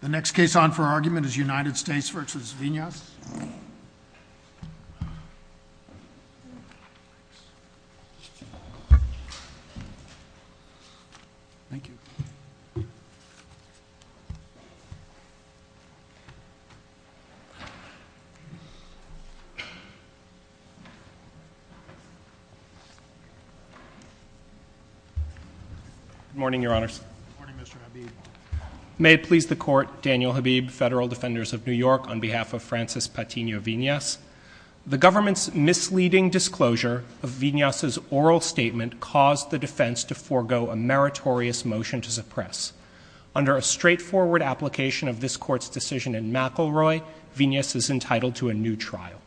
The next case on for argument is United States v. Vinyas. Good morning, Your Honors. May it please the Court. Daniel Habib, Federal Defenders of New York, on behalf of Francis Patino Vinyas. The government's misleading disclosure of Vinyas' oral statement caused the defense to forego a meritorious motion to suppress. Under a straightforward application of this Court's decision in McElroy, Vinyas is entitled to a new trial.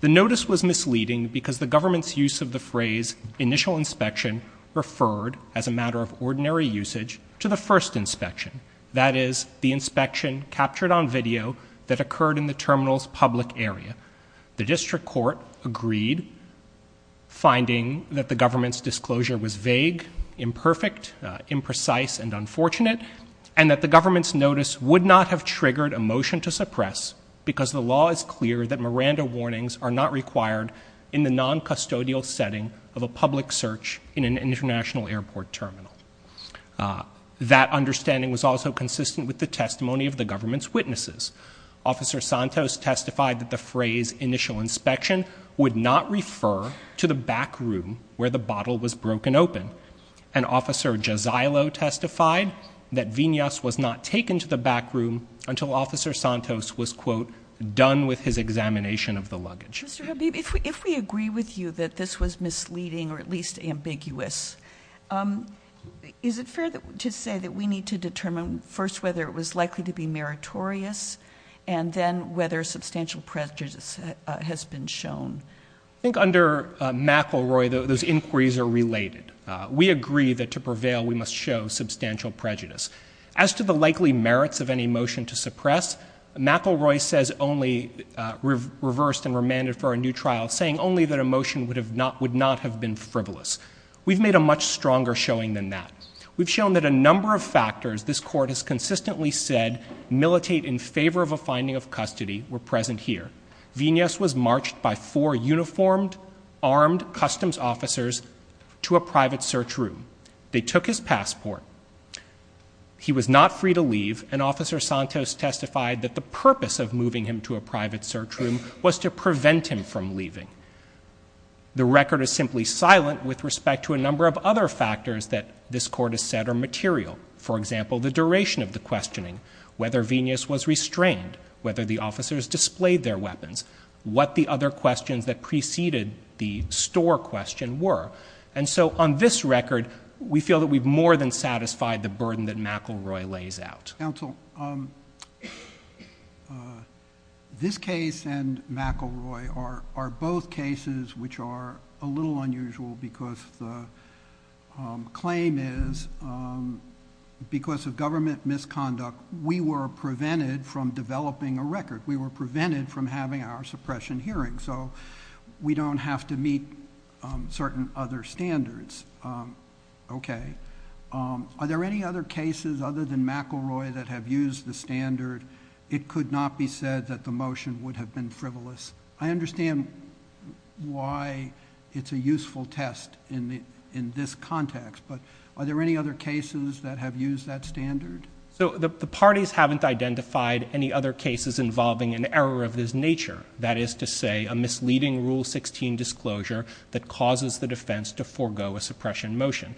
The notice was misleading because the government's use of the phrase initial inspection referred, as a matter of ordinary usage, to the first inspection, that is, the inspection captured on video that occurred in the terminal's public area. The district court agreed, finding that the government's disclosure was vague, imperfect, imprecise, and unfortunate, and that the government's notice would not have triggered a motion to suppress because the law is clear that Miranda warnings are not required in the non-custodial setting of a public search in an international airport terminal. That understanding was also consistent with the testimony of the government's witnesses. Officer Santos testified that the phrase initial inspection would not refer to the back room where the bottle was broken open. And Officer Gisilo testified that Vinyas was not taken to the back room until Officer Santos was, quote, done with his examination of the luggage. Mr. Habib, if we agree with you that this was misleading or at least ambiguous, is it fair to say that we need to determine first whether it was likely to be meritorious and then whether substantial prejudice has been shown? I think under McElroy those inquiries are related. We agree that to prevail we must show substantial prejudice. As to the likely merits of any motion to suppress, McElroy says only, reversed and remanded for a new trial, saying only that a motion would not have been frivolous. We've made a much stronger showing than that. We've shown that a number of factors this court has consistently said militate in favor of a finding of custody were present here. Vinyas was marched by four uniformed armed customs officers to a private search room. They took his passport. He was not free to leave, and Officer Santos testified that the purpose of moving him to a private search room was to prevent him from leaving. The record is simply silent with respect to a number of other factors that this court has said are material, for example, the duration of the questioning, whether Vinyas was restrained, whether the officers displayed their weapons, what the other questions that preceded the store question were. And so on this record we feel that we've more than satisfied the burden that McElroy lays out. Counsel, this case and McElroy are both cases which are a little unusual because the claim is because of government misconduct we were prevented from developing a record. We were prevented from having our suppression hearing, so we don't have to meet certain other standards. Okay. Are there any other cases other than McElroy that have used the standard? It could not be said that the motion would have been frivolous. I understand why it's a useful test in this context, but are there any other cases that have used that standard? So the parties haven't identified any other cases involving an error of this nature, that is to say a misleading Rule 16 disclosure that causes the defense to forego a suppression motion.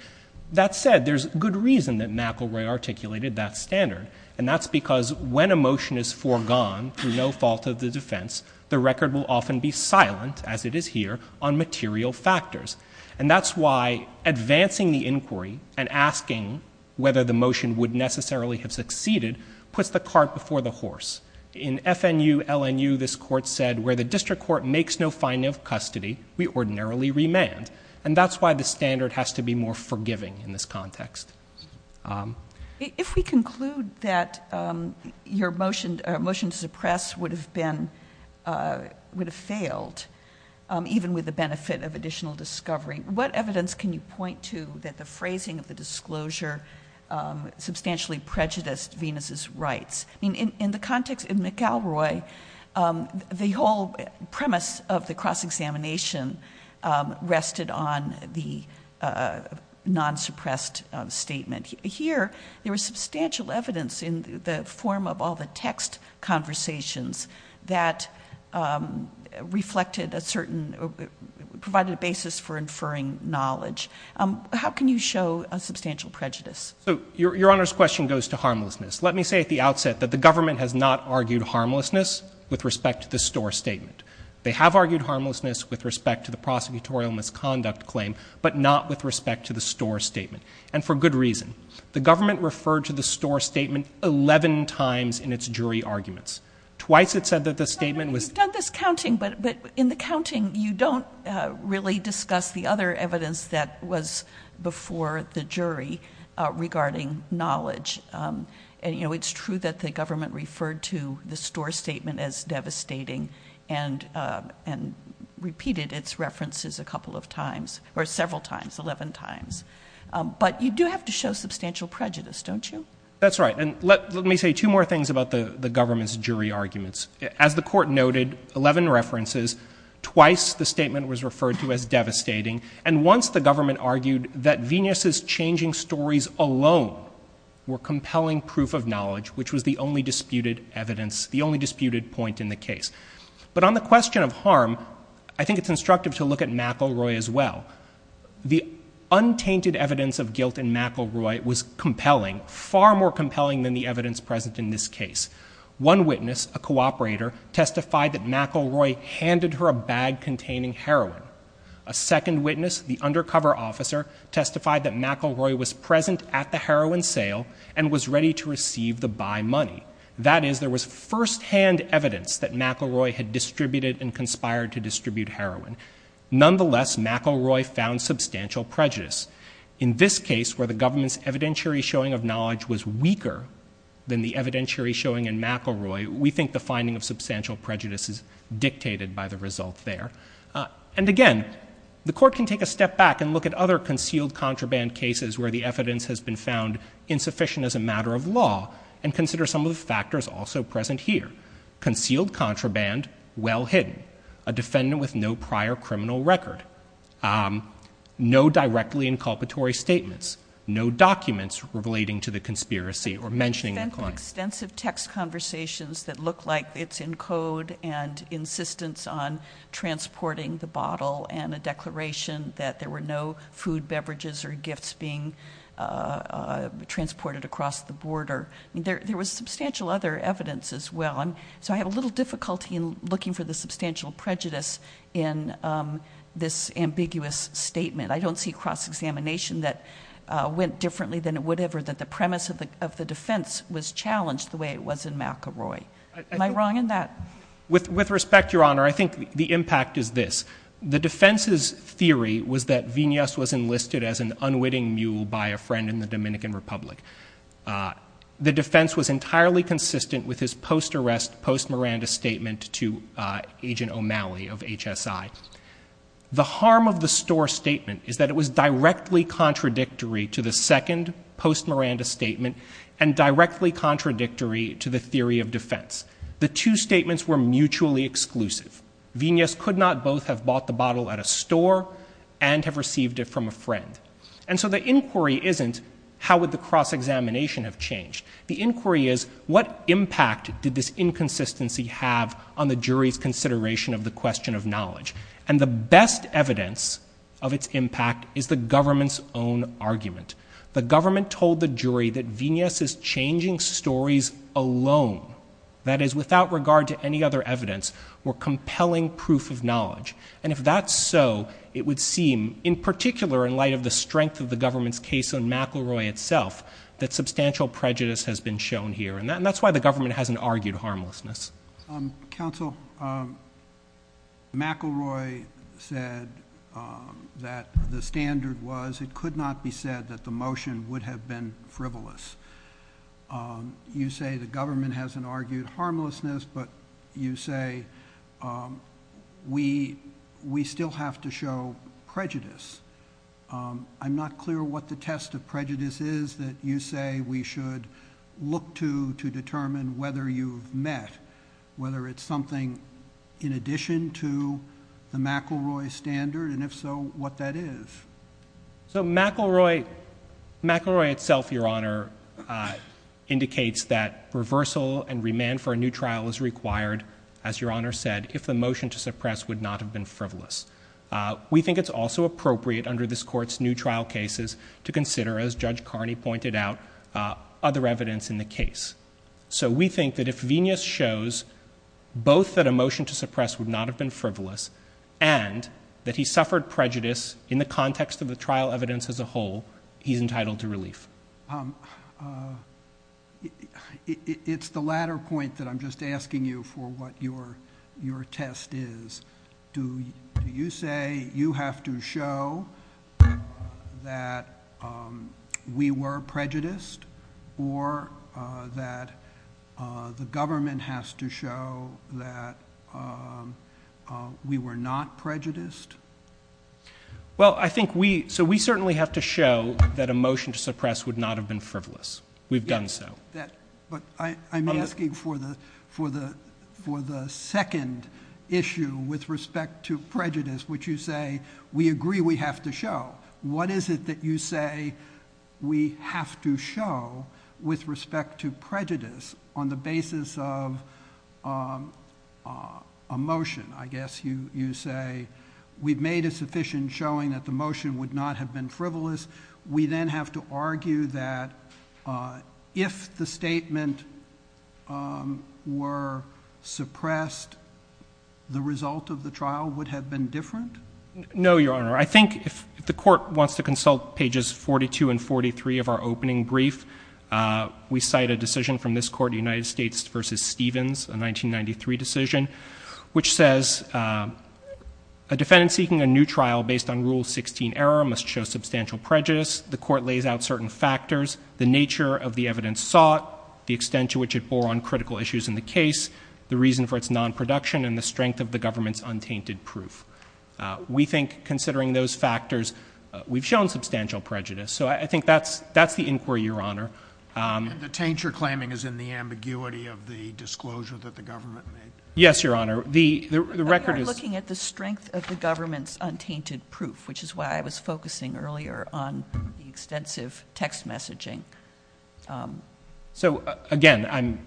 That said, there's good reason that McElroy articulated that standard, and that's because when a motion is foregone through no fault of the defense, the record will often be silent, as it is here, on material factors. And that's why advancing the inquiry and asking whether the motion would necessarily have succeeded puts the cart before the horse. In FNU-LNU, this Court said, where the district court makes no finding of custody, we ordinarily remand. And that's why the standard has to be more forgiving in this context. If we conclude that your motion to suppress would have failed, even with the benefit of additional discovery, what evidence can you point to that the phrasing of the disclosure substantially prejudiced Venus' rights? In McElroy, the whole premise of the cross-examination rested on the non-suppressed statement. Here, there was substantial evidence in the form of all the text conversations that provided a basis for inferring knowledge. How can you show a substantial prejudice? Your Honor's question goes to harmlessness. Let me say at the outset that the government has not argued harmlessness with respect to the Storr statement. They have argued harmlessness with respect to the prosecutorial misconduct claim, but not with respect to the Storr statement, and for good reason. The government referred to the Storr statement 11 times in its jury arguments, twice it said that the statement was- Your Honor, you've done this counting, but in the counting you don't really discuss the other evidence that was before the jury regarding knowledge. It's true that the government referred to the Storr statement as devastating and repeated its references a couple of times, or several times, 11 times. But you do have to show substantial prejudice, don't you? That's right, and let me say two more things about the government's jury arguments. As the Court noted, 11 references, twice the statement was referred to as devastating, and once the government argued that Venus's changing stories alone were compelling proof of knowledge, which was the only disputed evidence, the only disputed point in the case. But on the question of harm, I think it's instructive to look at McElroy as well. The untainted evidence of guilt in McElroy was compelling, far more compelling than the evidence present in this case. One witness, a cooperator, testified that McElroy handed her a bag containing heroin. A second witness, the undercover officer, testified that McElroy was present at the heroin sale and was ready to receive the buy money. That is, there was firsthand evidence that McElroy had distributed and conspired to distribute heroin. Nonetheless, McElroy found substantial prejudice. In this case, where the government's evidentiary showing of knowledge was weaker than the evidentiary showing in McElroy, we think the finding of substantial prejudice is dictated by the result there. And again, the Court can take a step back and look at other concealed contraband cases where the evidence has been found insufficient as a matter of law and consider some of the factors also present here. Concealed contraband, well hidden. A defendant with no prior criminal record. No directly inculpatory statements. No documents relating to the conspiracy or mentioning the crime. Extensive text conversations that look like it's in code and insistence on transporting the bottle and a declaration that there were no food, beverages, or gifts being transported across the border. There was substantial other evidence as well. So I have a little difficulty in looking for the substantial prejudice in this ambiguous statement. I don't see cross-examination that went differently than it would have or that the premise of the defense was challenged the way it was in McElroy. Am I wrong in that? With respect, Your Honor, I think the impact is this. The defense's theory was that Vinas was enlisted as an unwitting mule by a friend in the Dominican Republic. The defense was entirely consistent with his post-arrest, post-Miranda statement to Agent O'Malley of HSI. The harm of the store statement is that it was directly contradictory to the second post-Miranda statement and directly contradictory to the theory of defense. The two statements were mutually exclusive. Vinas could not both have bought the bottle at a store and have received it from a friend. And so the inquiry isn't how would the cross-examination have changed. The inquiry is what impact did this inconsistency have on the jury's consideration of the question of knowledge. And the best evidence of its impact is the government's own argument. The government told the jury that Vinas's changing stories alone, that is, without regard to any other evidence, were compelling proof of knowledge. And if that's so, it would seem, in particular in light of the strength of the government's case on McElroy itself, that substantial prejudice has been shown here. And that's why the government hasn't argued harmlessness. Counsel, McElroy said that the standard was it could not be said that the motion would have been frivolous. You say the government hasn't argued harmlessness, but you say we still have to show prejudice. I'm not clear what the test of prejudice is that you say we should look to to determine whether you've met, whether it's something in addition to the McElroy standard, and if so, what that is. So McElroy, McElroy itself, Your Honor, indicates that reversal and remand for a new trial is required, as Your Honor said, if the motion to suppress would not have been frivolous. We think it's also appropriate under this court's new trial cases to consider, as Judge Carney pointed out, other evidence in the case. So we think that if Vinas shows both that a motion to suppress would not have been frivolous and that he suffered prejudice in the context of the trial evidence as a whole, he's entitled to relief. It's the latter point that I'm just asking you for what your test is. Do you say you have to show that we were prejudiced or that the government has to show that we were not prejudiced? Well, I think we so we certainly have to show that a motion to suppress would not have been frivolous. We've done so. But I'm asking for the second issue with respect to prejudice, which you say we agree we have to show. What is it that you say we have to show with respect to prejudice on the basis of a motion? I guess you say we've made a sufficient showing that the motion would not have been frivolous. We then have to argue that if the statement were suppressed, the result of the trial would have been different? No, Your Honor. I think if the court wants to consult pages 42 and 43 of our opening brief, we cite a decision from this court, United States v. Stevens, a 1993 decision, which says a defendant seeking a new trial based on Rule 16 error must show substantial prejudice. The court lays out certain factors, the nature of the evidence sought, the extent to which it bore on critical issues in the case, the reason for its non-production, and the strength of the government's untainted proof. We think, considering those factors, we've shown substantial prejudice. So I think that's the inquiry, Your Honor. The taint you're claiming is in the ambiguity of the disclosure that the government made? Yes, Your Honor. We are looking at the strength of the government's untainted proof, which is why I was focusing earlier on the extensive text messaging. So, again, I'm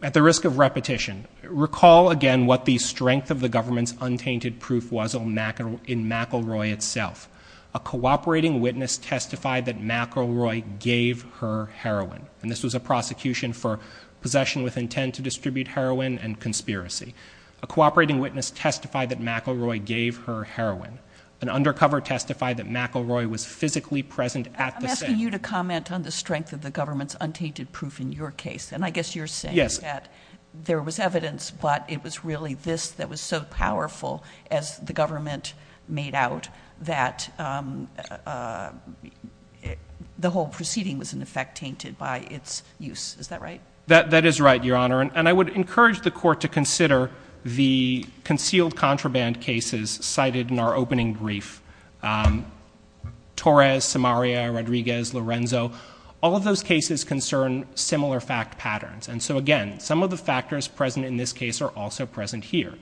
at the risk of repetition. Recall again what the strength of the government's untainted proof was in McElroy itself. A cooperating witness testified that McElroy gave her heroin, and this was a prosecution for possession with intent to distribute heroin and conspiracy. A cooperating witness testified that McElroy gave her heroin. An undercover testified that McElroy was physically present at the scene. I'm asking you to comment on the strength of the government's untainted proof in your case. And I guess you're saying that there was evidence, but it was really this that was so powerful, as the government made out, that the whole proceeding was in effect tainted by its use. Is that right? That is right, Your Honor. And I would encourage the Court to consider the concealed contraband cases cited in our opening brief. Torres, Samaria, Rodriguez, Lorenzo, all of those cases concern similar fact patterns. And so, again, some of the factors present in this case are also present here.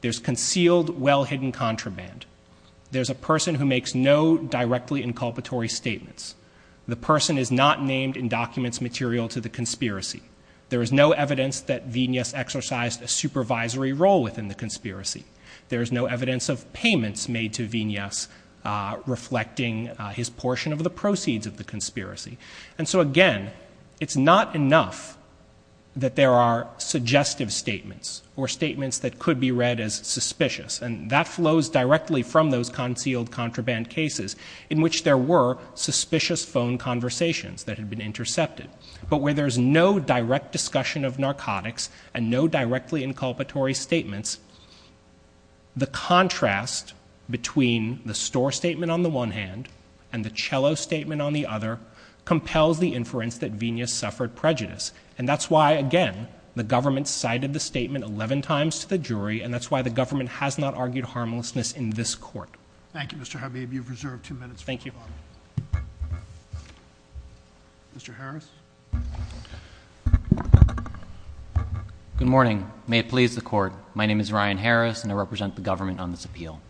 There's concealed, well-hidden contraband. There's a person who makes no directly inculpatory statements. The person is not named in documents material to the conspiracy. There is no evidence that Vignez exercised a supervisory role within the conspiracy. There is no evidence of payments made to Vignez reflecting his portion of the proceeds of the conspiracy. And so, again, it's not enough that there are suggestive statements or statements that could be read as suspicious. And that flows directly from those concealed contraband cases, in which there were suspicious phone conversations that had been intercepted. But where there's no direct discussion of narcotics and no directly inculpatory statements, the contrast between the Storr statement on the one hand and the Cello statement on the other compels the inference that Vignez suffered prejudice. And that's why, again, the government cited the statement 11 times to the jury, and that's why the government has not argued harmlessness in this Court. Thank you, Mr. Habib. You've reserved two minutes. Thank you. Mr. Harris. Good morning. May it please the Court. My name is Ryan Harris, and I represent the government on this appeal.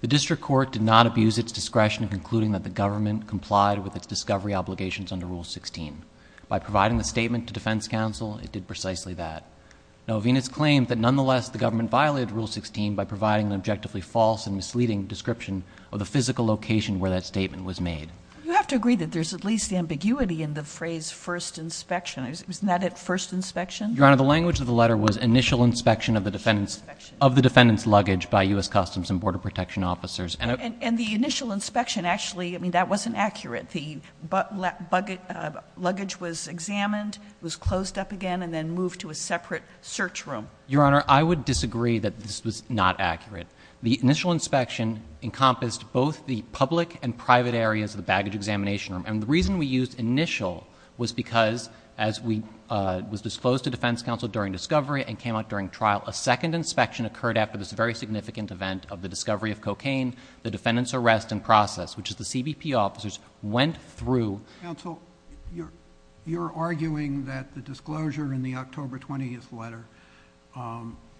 The district court did not abuse its discretion in concluding that the government complied with its discovery obligations under Rule 16. By providing the statement to defense counsel, it did precisely that. No, Vignez claimed that nonetheless the government violated Rule 16 by providing an objectively false and misleading description of the physical location where that statement was made. You have to agree that there's at least ambiguity in the phrase first inspection. Isn't that it, first inspection? Your Honor, the language of the letter was initial inspection of the defendant's luggage by U.S. Customs and Border Protection officers. And the initial inspection, actually, I mean, that wasn't accurate. The luggage was examined, was closed up again, and then moved to a separate search room. Your Honor, I would disagree that this was not accurate. The initial inspection encompassed both the public and private areas of the baggage examination room. And the reason we used initial was because, as was disclosed to defense counsel during discovery and came out during trial, a second inspection occurred after this very significant event of the discovery of cocaine. The defendant's arrest and process, which is the CBP officers, went through. Counsel, you're arguing that the disclosure in the October 20th letter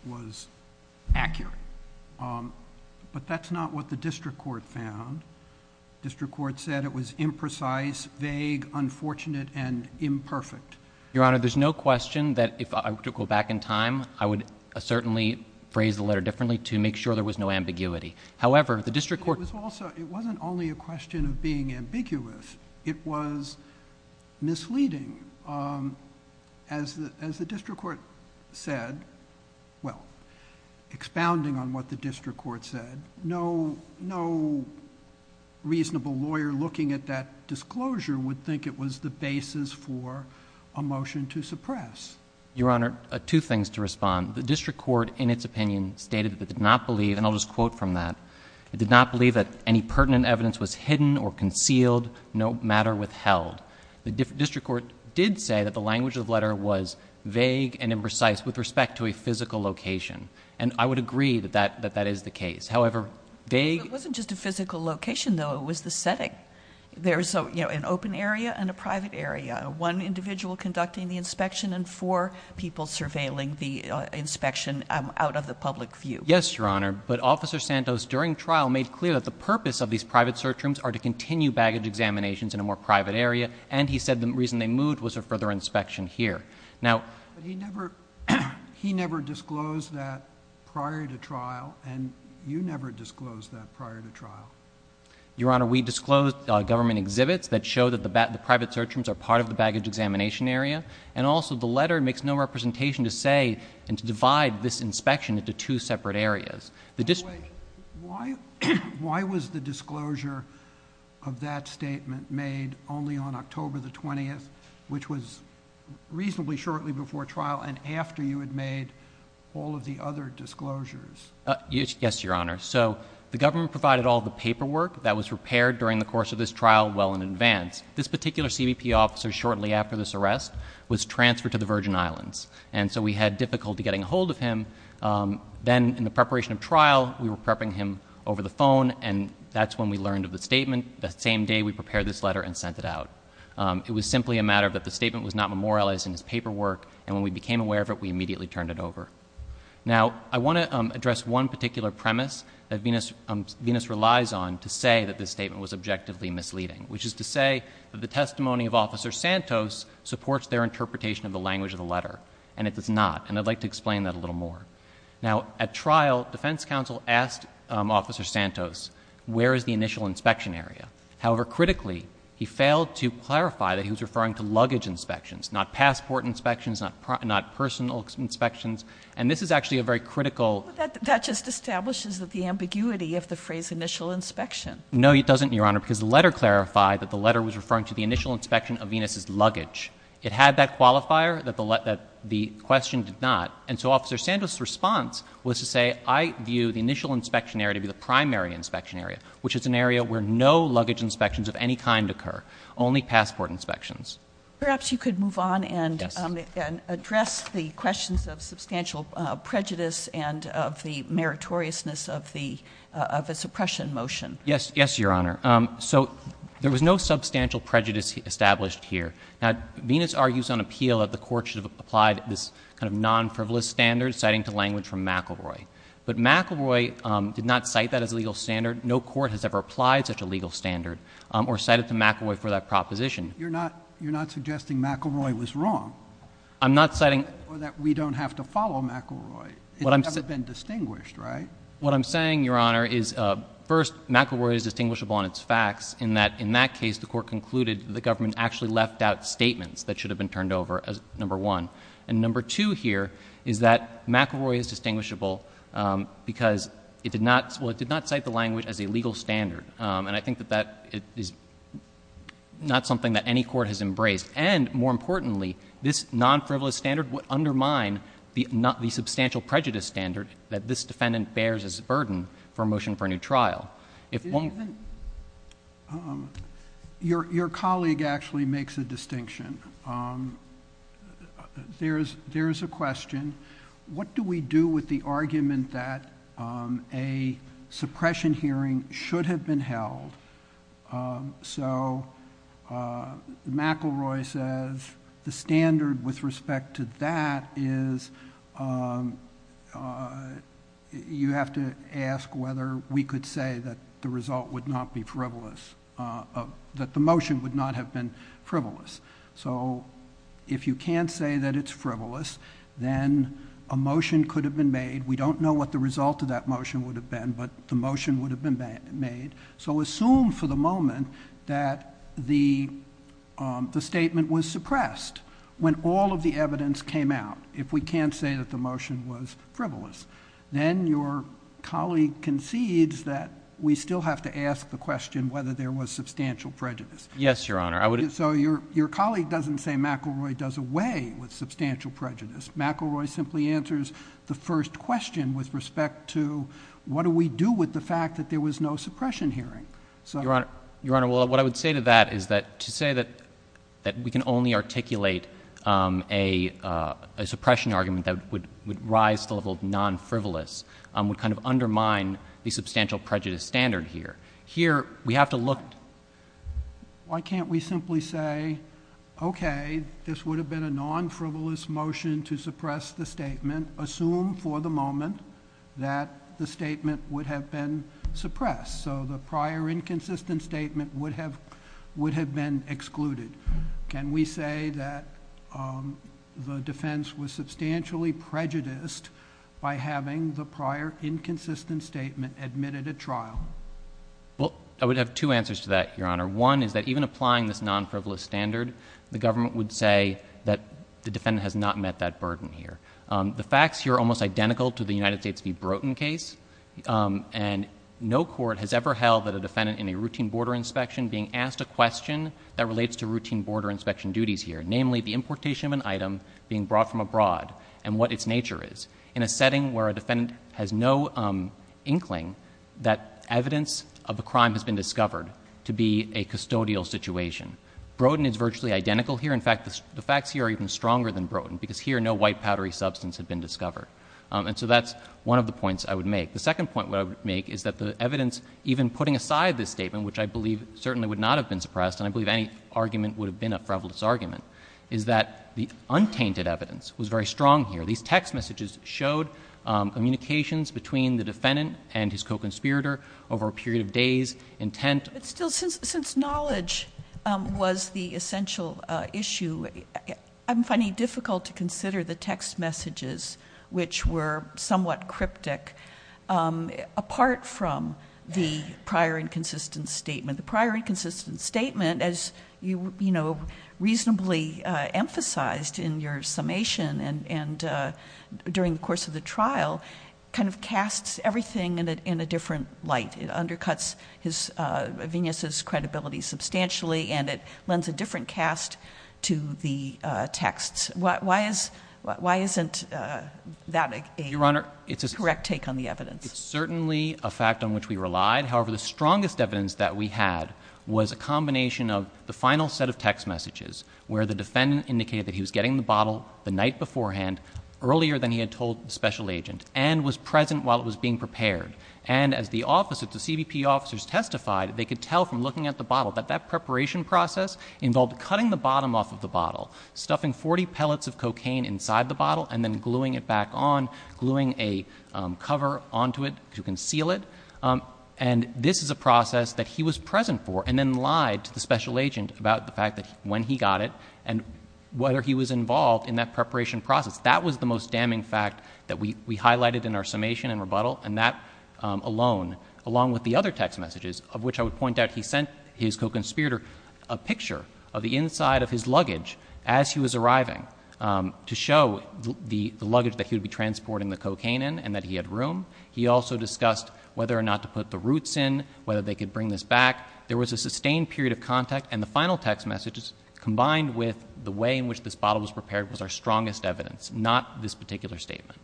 was accurate. But that's not what the district court found. The district court said it was imprecise, vague, unfortunate, and imperfect. Your Honor, there's no question that if I were to go back in time, I would certainly phrase the letter differently to make sure there was no ambiguity. However, the district court... It wasn't only a question of being ambiguous. It was misleading. As the district court said, well, expounding on what the district court said, no reasonable lawyer looking at that disclosure would think it was the basis for a motion to suppress. Your Honor, two things to respond. The district court, in its opinion, stated that it did not believe, and I'll just quote from that, it did not believe that any pertinent evidence was hidden or concealed, no matter withheld. The district court did say that the language of the letter was vague and imprecise with respect to a physical location. And I would agree that that is the case. However, vague... It wasn't just a physical location, though. It was the setting. There's an open area and a private area, one individual conducting the inspection and four people surveilling the inspection out of the public view. Yes, Your Honor. But Officer Santos, during trial, made clear that the purpose of these private search rooms are to continue baggage examinations in a more private area, and he said the reason they moved was for further inspection here. Now... But he never disclosed that prior to trial, and you never disclosed that prior to trial. Your Honor, we disclosed government exhibits that show that the private search rooms are part of the baggage examination area, and also the letter makes no representation to say and to divide this inspection into two separate areas. Why was the disclosure of that statement made only on October the 20th, which was reasonably shortly before trial and after you had made all of the other disclosures? Yes, Your Honor. So the government provided all the paperwork that was repaired during the course of this trial well in advance. This particular CBP officer, shortly after this arrest, was transferred to the Virgin Islands, and so we had difficulty getting a hold of him. Then, in the preparation of trial, we were prepping him over the phone, and that's when we learned of the statement the same day we prepared this letter and sent it out. It was simply a matter that the statement was not memorialized in his paperwork, and when we became aware of it, we immediately turned it over. Now, I want to address one particular premise that Venus relies on to say that this statement was objectively misleading, which is to say that the testimony of Officer Santos supports their interpretation of the language of the letter, and it does not, and I'd like to explain that a little more. Now, at trial, defense counsel asked Officer Santos, where is the initial inspection area? However, critically, he failed to clarify that he was referring to luggage inspections, not passport inspections, not personal inspections, and this is actually a very critical— That just establishes the ambiguity of the phrase initial inspection. No, it doesn't, Your Honor, because the letter clarified that the letter was referring to the initial inspection of Venus' luggage. It had that qualifier that the question did not, and so Officer Santos' response was to say, I view the initial inspection area to be the primary inspection area, which is an area where no luggage inspections of any kind occur, only passport inspections. Perhaps you could move on and address the questions of substantial prejudice and of the meritoriousness of the suppression motion. Yes, Your Honor. So there was no substantial prejudice established here. Now, Venus argues on appeal that the court should have applied this kind of non-frivolous standard citing to language from McElroy, but McElroy did not cite that as a legal standard. No court has ever applied such a legal standard or cited to McElroy for that proposition. You're not suggesting McElroy was wrong? I'm not citing— Or that we don't have to follow McElroy. It's never been distinguished, right? What I'm saying, Your Honor, is, first, McElroy is distinguishable on its facts in that, in that case, the court concluded the government actually left out statements that should have been turned over, number one. And number two here is that McElroy is distinguishable because it did not cite the language as a legal standard, and I think that that is not something that any court has embraced. And, more importantly, this non-frivolous standard would undermine the substantial prejudice standard that this defendant bears as a burden for a motion for a new trial. If one— Your colleague actually makes a distinction. There is a question. What do we do with the argument that a suppression hearing should have been held? So McElroy says the standard with respect to that is you have to ask whether we could say that the result would not be frivolous, that the motion would not have been frivolous. So if you can't say that it's frivolous, then a motion could have been made. We don't know what the result of that motion would have been, but the motion would have been made. So assume for the moment that the statement was suppressed. When all of the evidence came out, if we can't say that the motion was frivolous, then your colleague concedes that we still have to ask the question whether there was substantial prejudice. Yes, Your Honor. So your colleague doesn't say McElroy does away with substantial prejudice. McElroy simply answers the first question with respect to what do we do with the fact that there was no suppression hearing. Your Honor, what I would say to that is to say that we can only articulate a suppression argument that would rise to the level of non-frivolous would kind of undermine the substantial prejudice standard here. Why can't we simply say okay, this would have been a non-frivolous motion to suppress the statement. Assume for the moment that the statement would have been suppressed. So the prior inconsistent statement would have been excluded. Can we say that the defense was substantially prejudiced by having the prior inconsistent statement admitted at trial? Well, I would have two answers to that, Your Honor. One is that even applying this non-frivolous standard, the government would say that the defendant has not met that burden here. The facts here are almost identical to the United States v. Broughton case. And no court has ever held that a defendant in a routine border inspection being asked a question that relates to routine border inspection duties here. Namely, the importation of an item being brought from abroad and what its nature is. In a setting where a defendant has no inkling that evidence of a crime has been discovered to be a custodial situation. Broughton is virtually identical here. In fact, the facts here are even stronger than Broughton because here no white powdery substance had been discovered. And so that's one of the points I would make. The second point I would make is that the evidence even putting aside this statement, which I believe certainly would not have been suppressed, and I believe any argument would have been a frivolous argument, is that the untainted evidence was very strong here. These text messages showed communications between the defendant and his co-conspirator over a period of days, intent. Since knowledge was the essential issue, I'm finding it difficult to consider the text messages, which were somewhat cryptic, apart from the prior inconsistent statement. The prior inconsistent statement, as you reasonably emphasized in your summation and during the course of the trial, kind of casts everything in a different light. It undercuts Venus' credibility substantially and it lends a different cast to the texts. Why isn't that a correct take on the evidence? It's certainly a fact on which we relied. However, the strongest evidence that we had was a combination of the final set of text messages, where the defendant indicated that he was getting the bottle the night beforehand, earlier than he had told the special agent, and was present while it was being prepared. And as the CBP officers testified, they could tell from looking at the bottle that that preparation process involved cutting the bottom off of the bottle, stuffing 40 pellets of cocaine inside the bottle, and then gluing it back on, gluing a cover onto it to conceal it. And this is a process that he was present for, and then lied to the special agent about the fact that when he got it, and whether he was involved in that preparation process. That was the most damning fact that we highlighted in our summation and rebuttal, and that alone, along with the other text messages, of which I would point out he sent his co-conspirator a picture of the inside of his luggage as he was arriving, to show the luggage that he would be transporting the cocaine in, and that he had room. He also discussed whether or not to put the roots in, whether they could bring this back. There was a sustained period of contact. And the final text messages, combined with the way in which this bottle was prepared, was our strongest evidence, not this particular statement.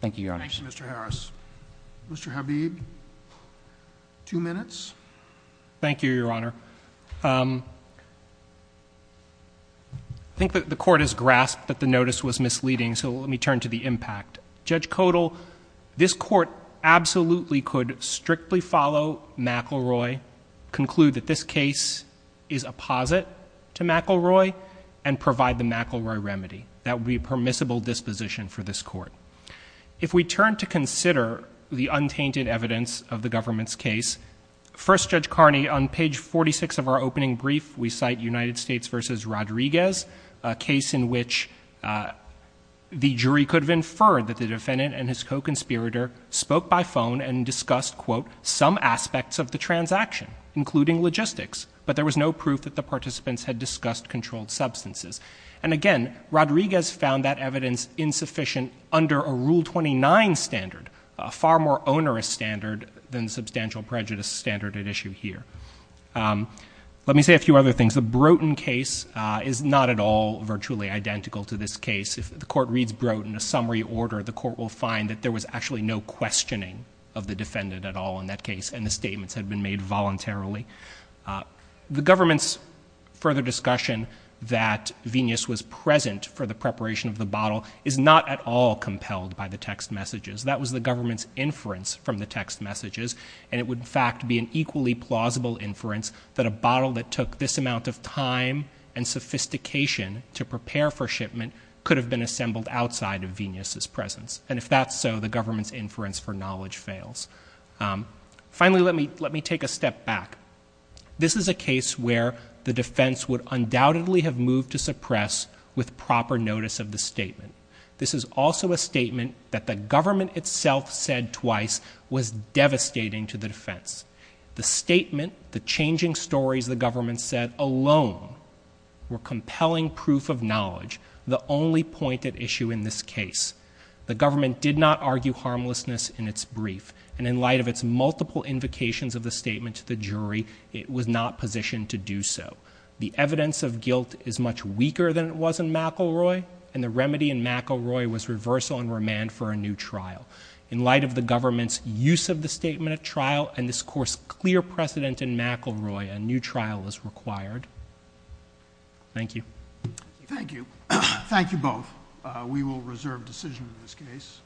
Thank you, Your Honor. Thank you, Mr. Harris. Mr. Habib, two minutes. Thank you, Your Honor. I think that the court has grasped that the notice was misleading, so let me turn to the impact. Judge Codall, this court absolutely could strictly follow McElroy, conclude that this case is a posit to McElroy, and provide the McElroy remedy. That would be a permissible disposition for this court. If we turn to consider the untainted evidence of the government's case, first, Judge Carney, on page 46 of our opening brief, we cite United States v. Rodriguez, a case in which the jury could have inferred that the defendant and his co-conspirator spoke by phone and discussed, quote, some aspects of the transaction, including logistics, but there was no proof that the participants had discussed controlled substances. And, again, Rodriguez found that evidence insufficient under a Rule 29 standard, a far more onerous standard than the substantial prejudice standard at issue here. Let me say a few other things. The Broughton case is not at all virtually identical to this case. If the court reads Broughton in a summary order, the court will find that there was actually no questioning of the defendant at all in that case, and the statements had been made voluntarily. The government's further discussion that Venus was present for the preparation of the bottle is not at all compelled by the text messages. That was the government's inference from the text messages, and it would, in fact, be an equally plausible inference that a bottle that took this amount of time and sophistication to prepare for shipment could have been assembled outside of Venus's presence. And if that's so, the government's inference for knowledge fails. Finally, let me take a step back. This is a case where the defense would undoubtedly have moved to suppress with proper notice of the statement. This is also a statement that the government itself said twice was devastating to the defense. The statement, the changing stories the government said alone were compelling proof of knowledge, the only pointed issue in this case. The government did not argue harmlessness in its brief, and in light of its multiple invocations of the statement to the jury, it was not positioned to do so. The evidence of guilt is much weaker than it was in McElroy, and the remedy in McElroy was reversal and remand for a new trial. In light of the government's use of the statement at trial and this court's clear precedent in McElroy, a new trial is required. Thank you. Thank you. Thank you both. We will reserve decision in this case.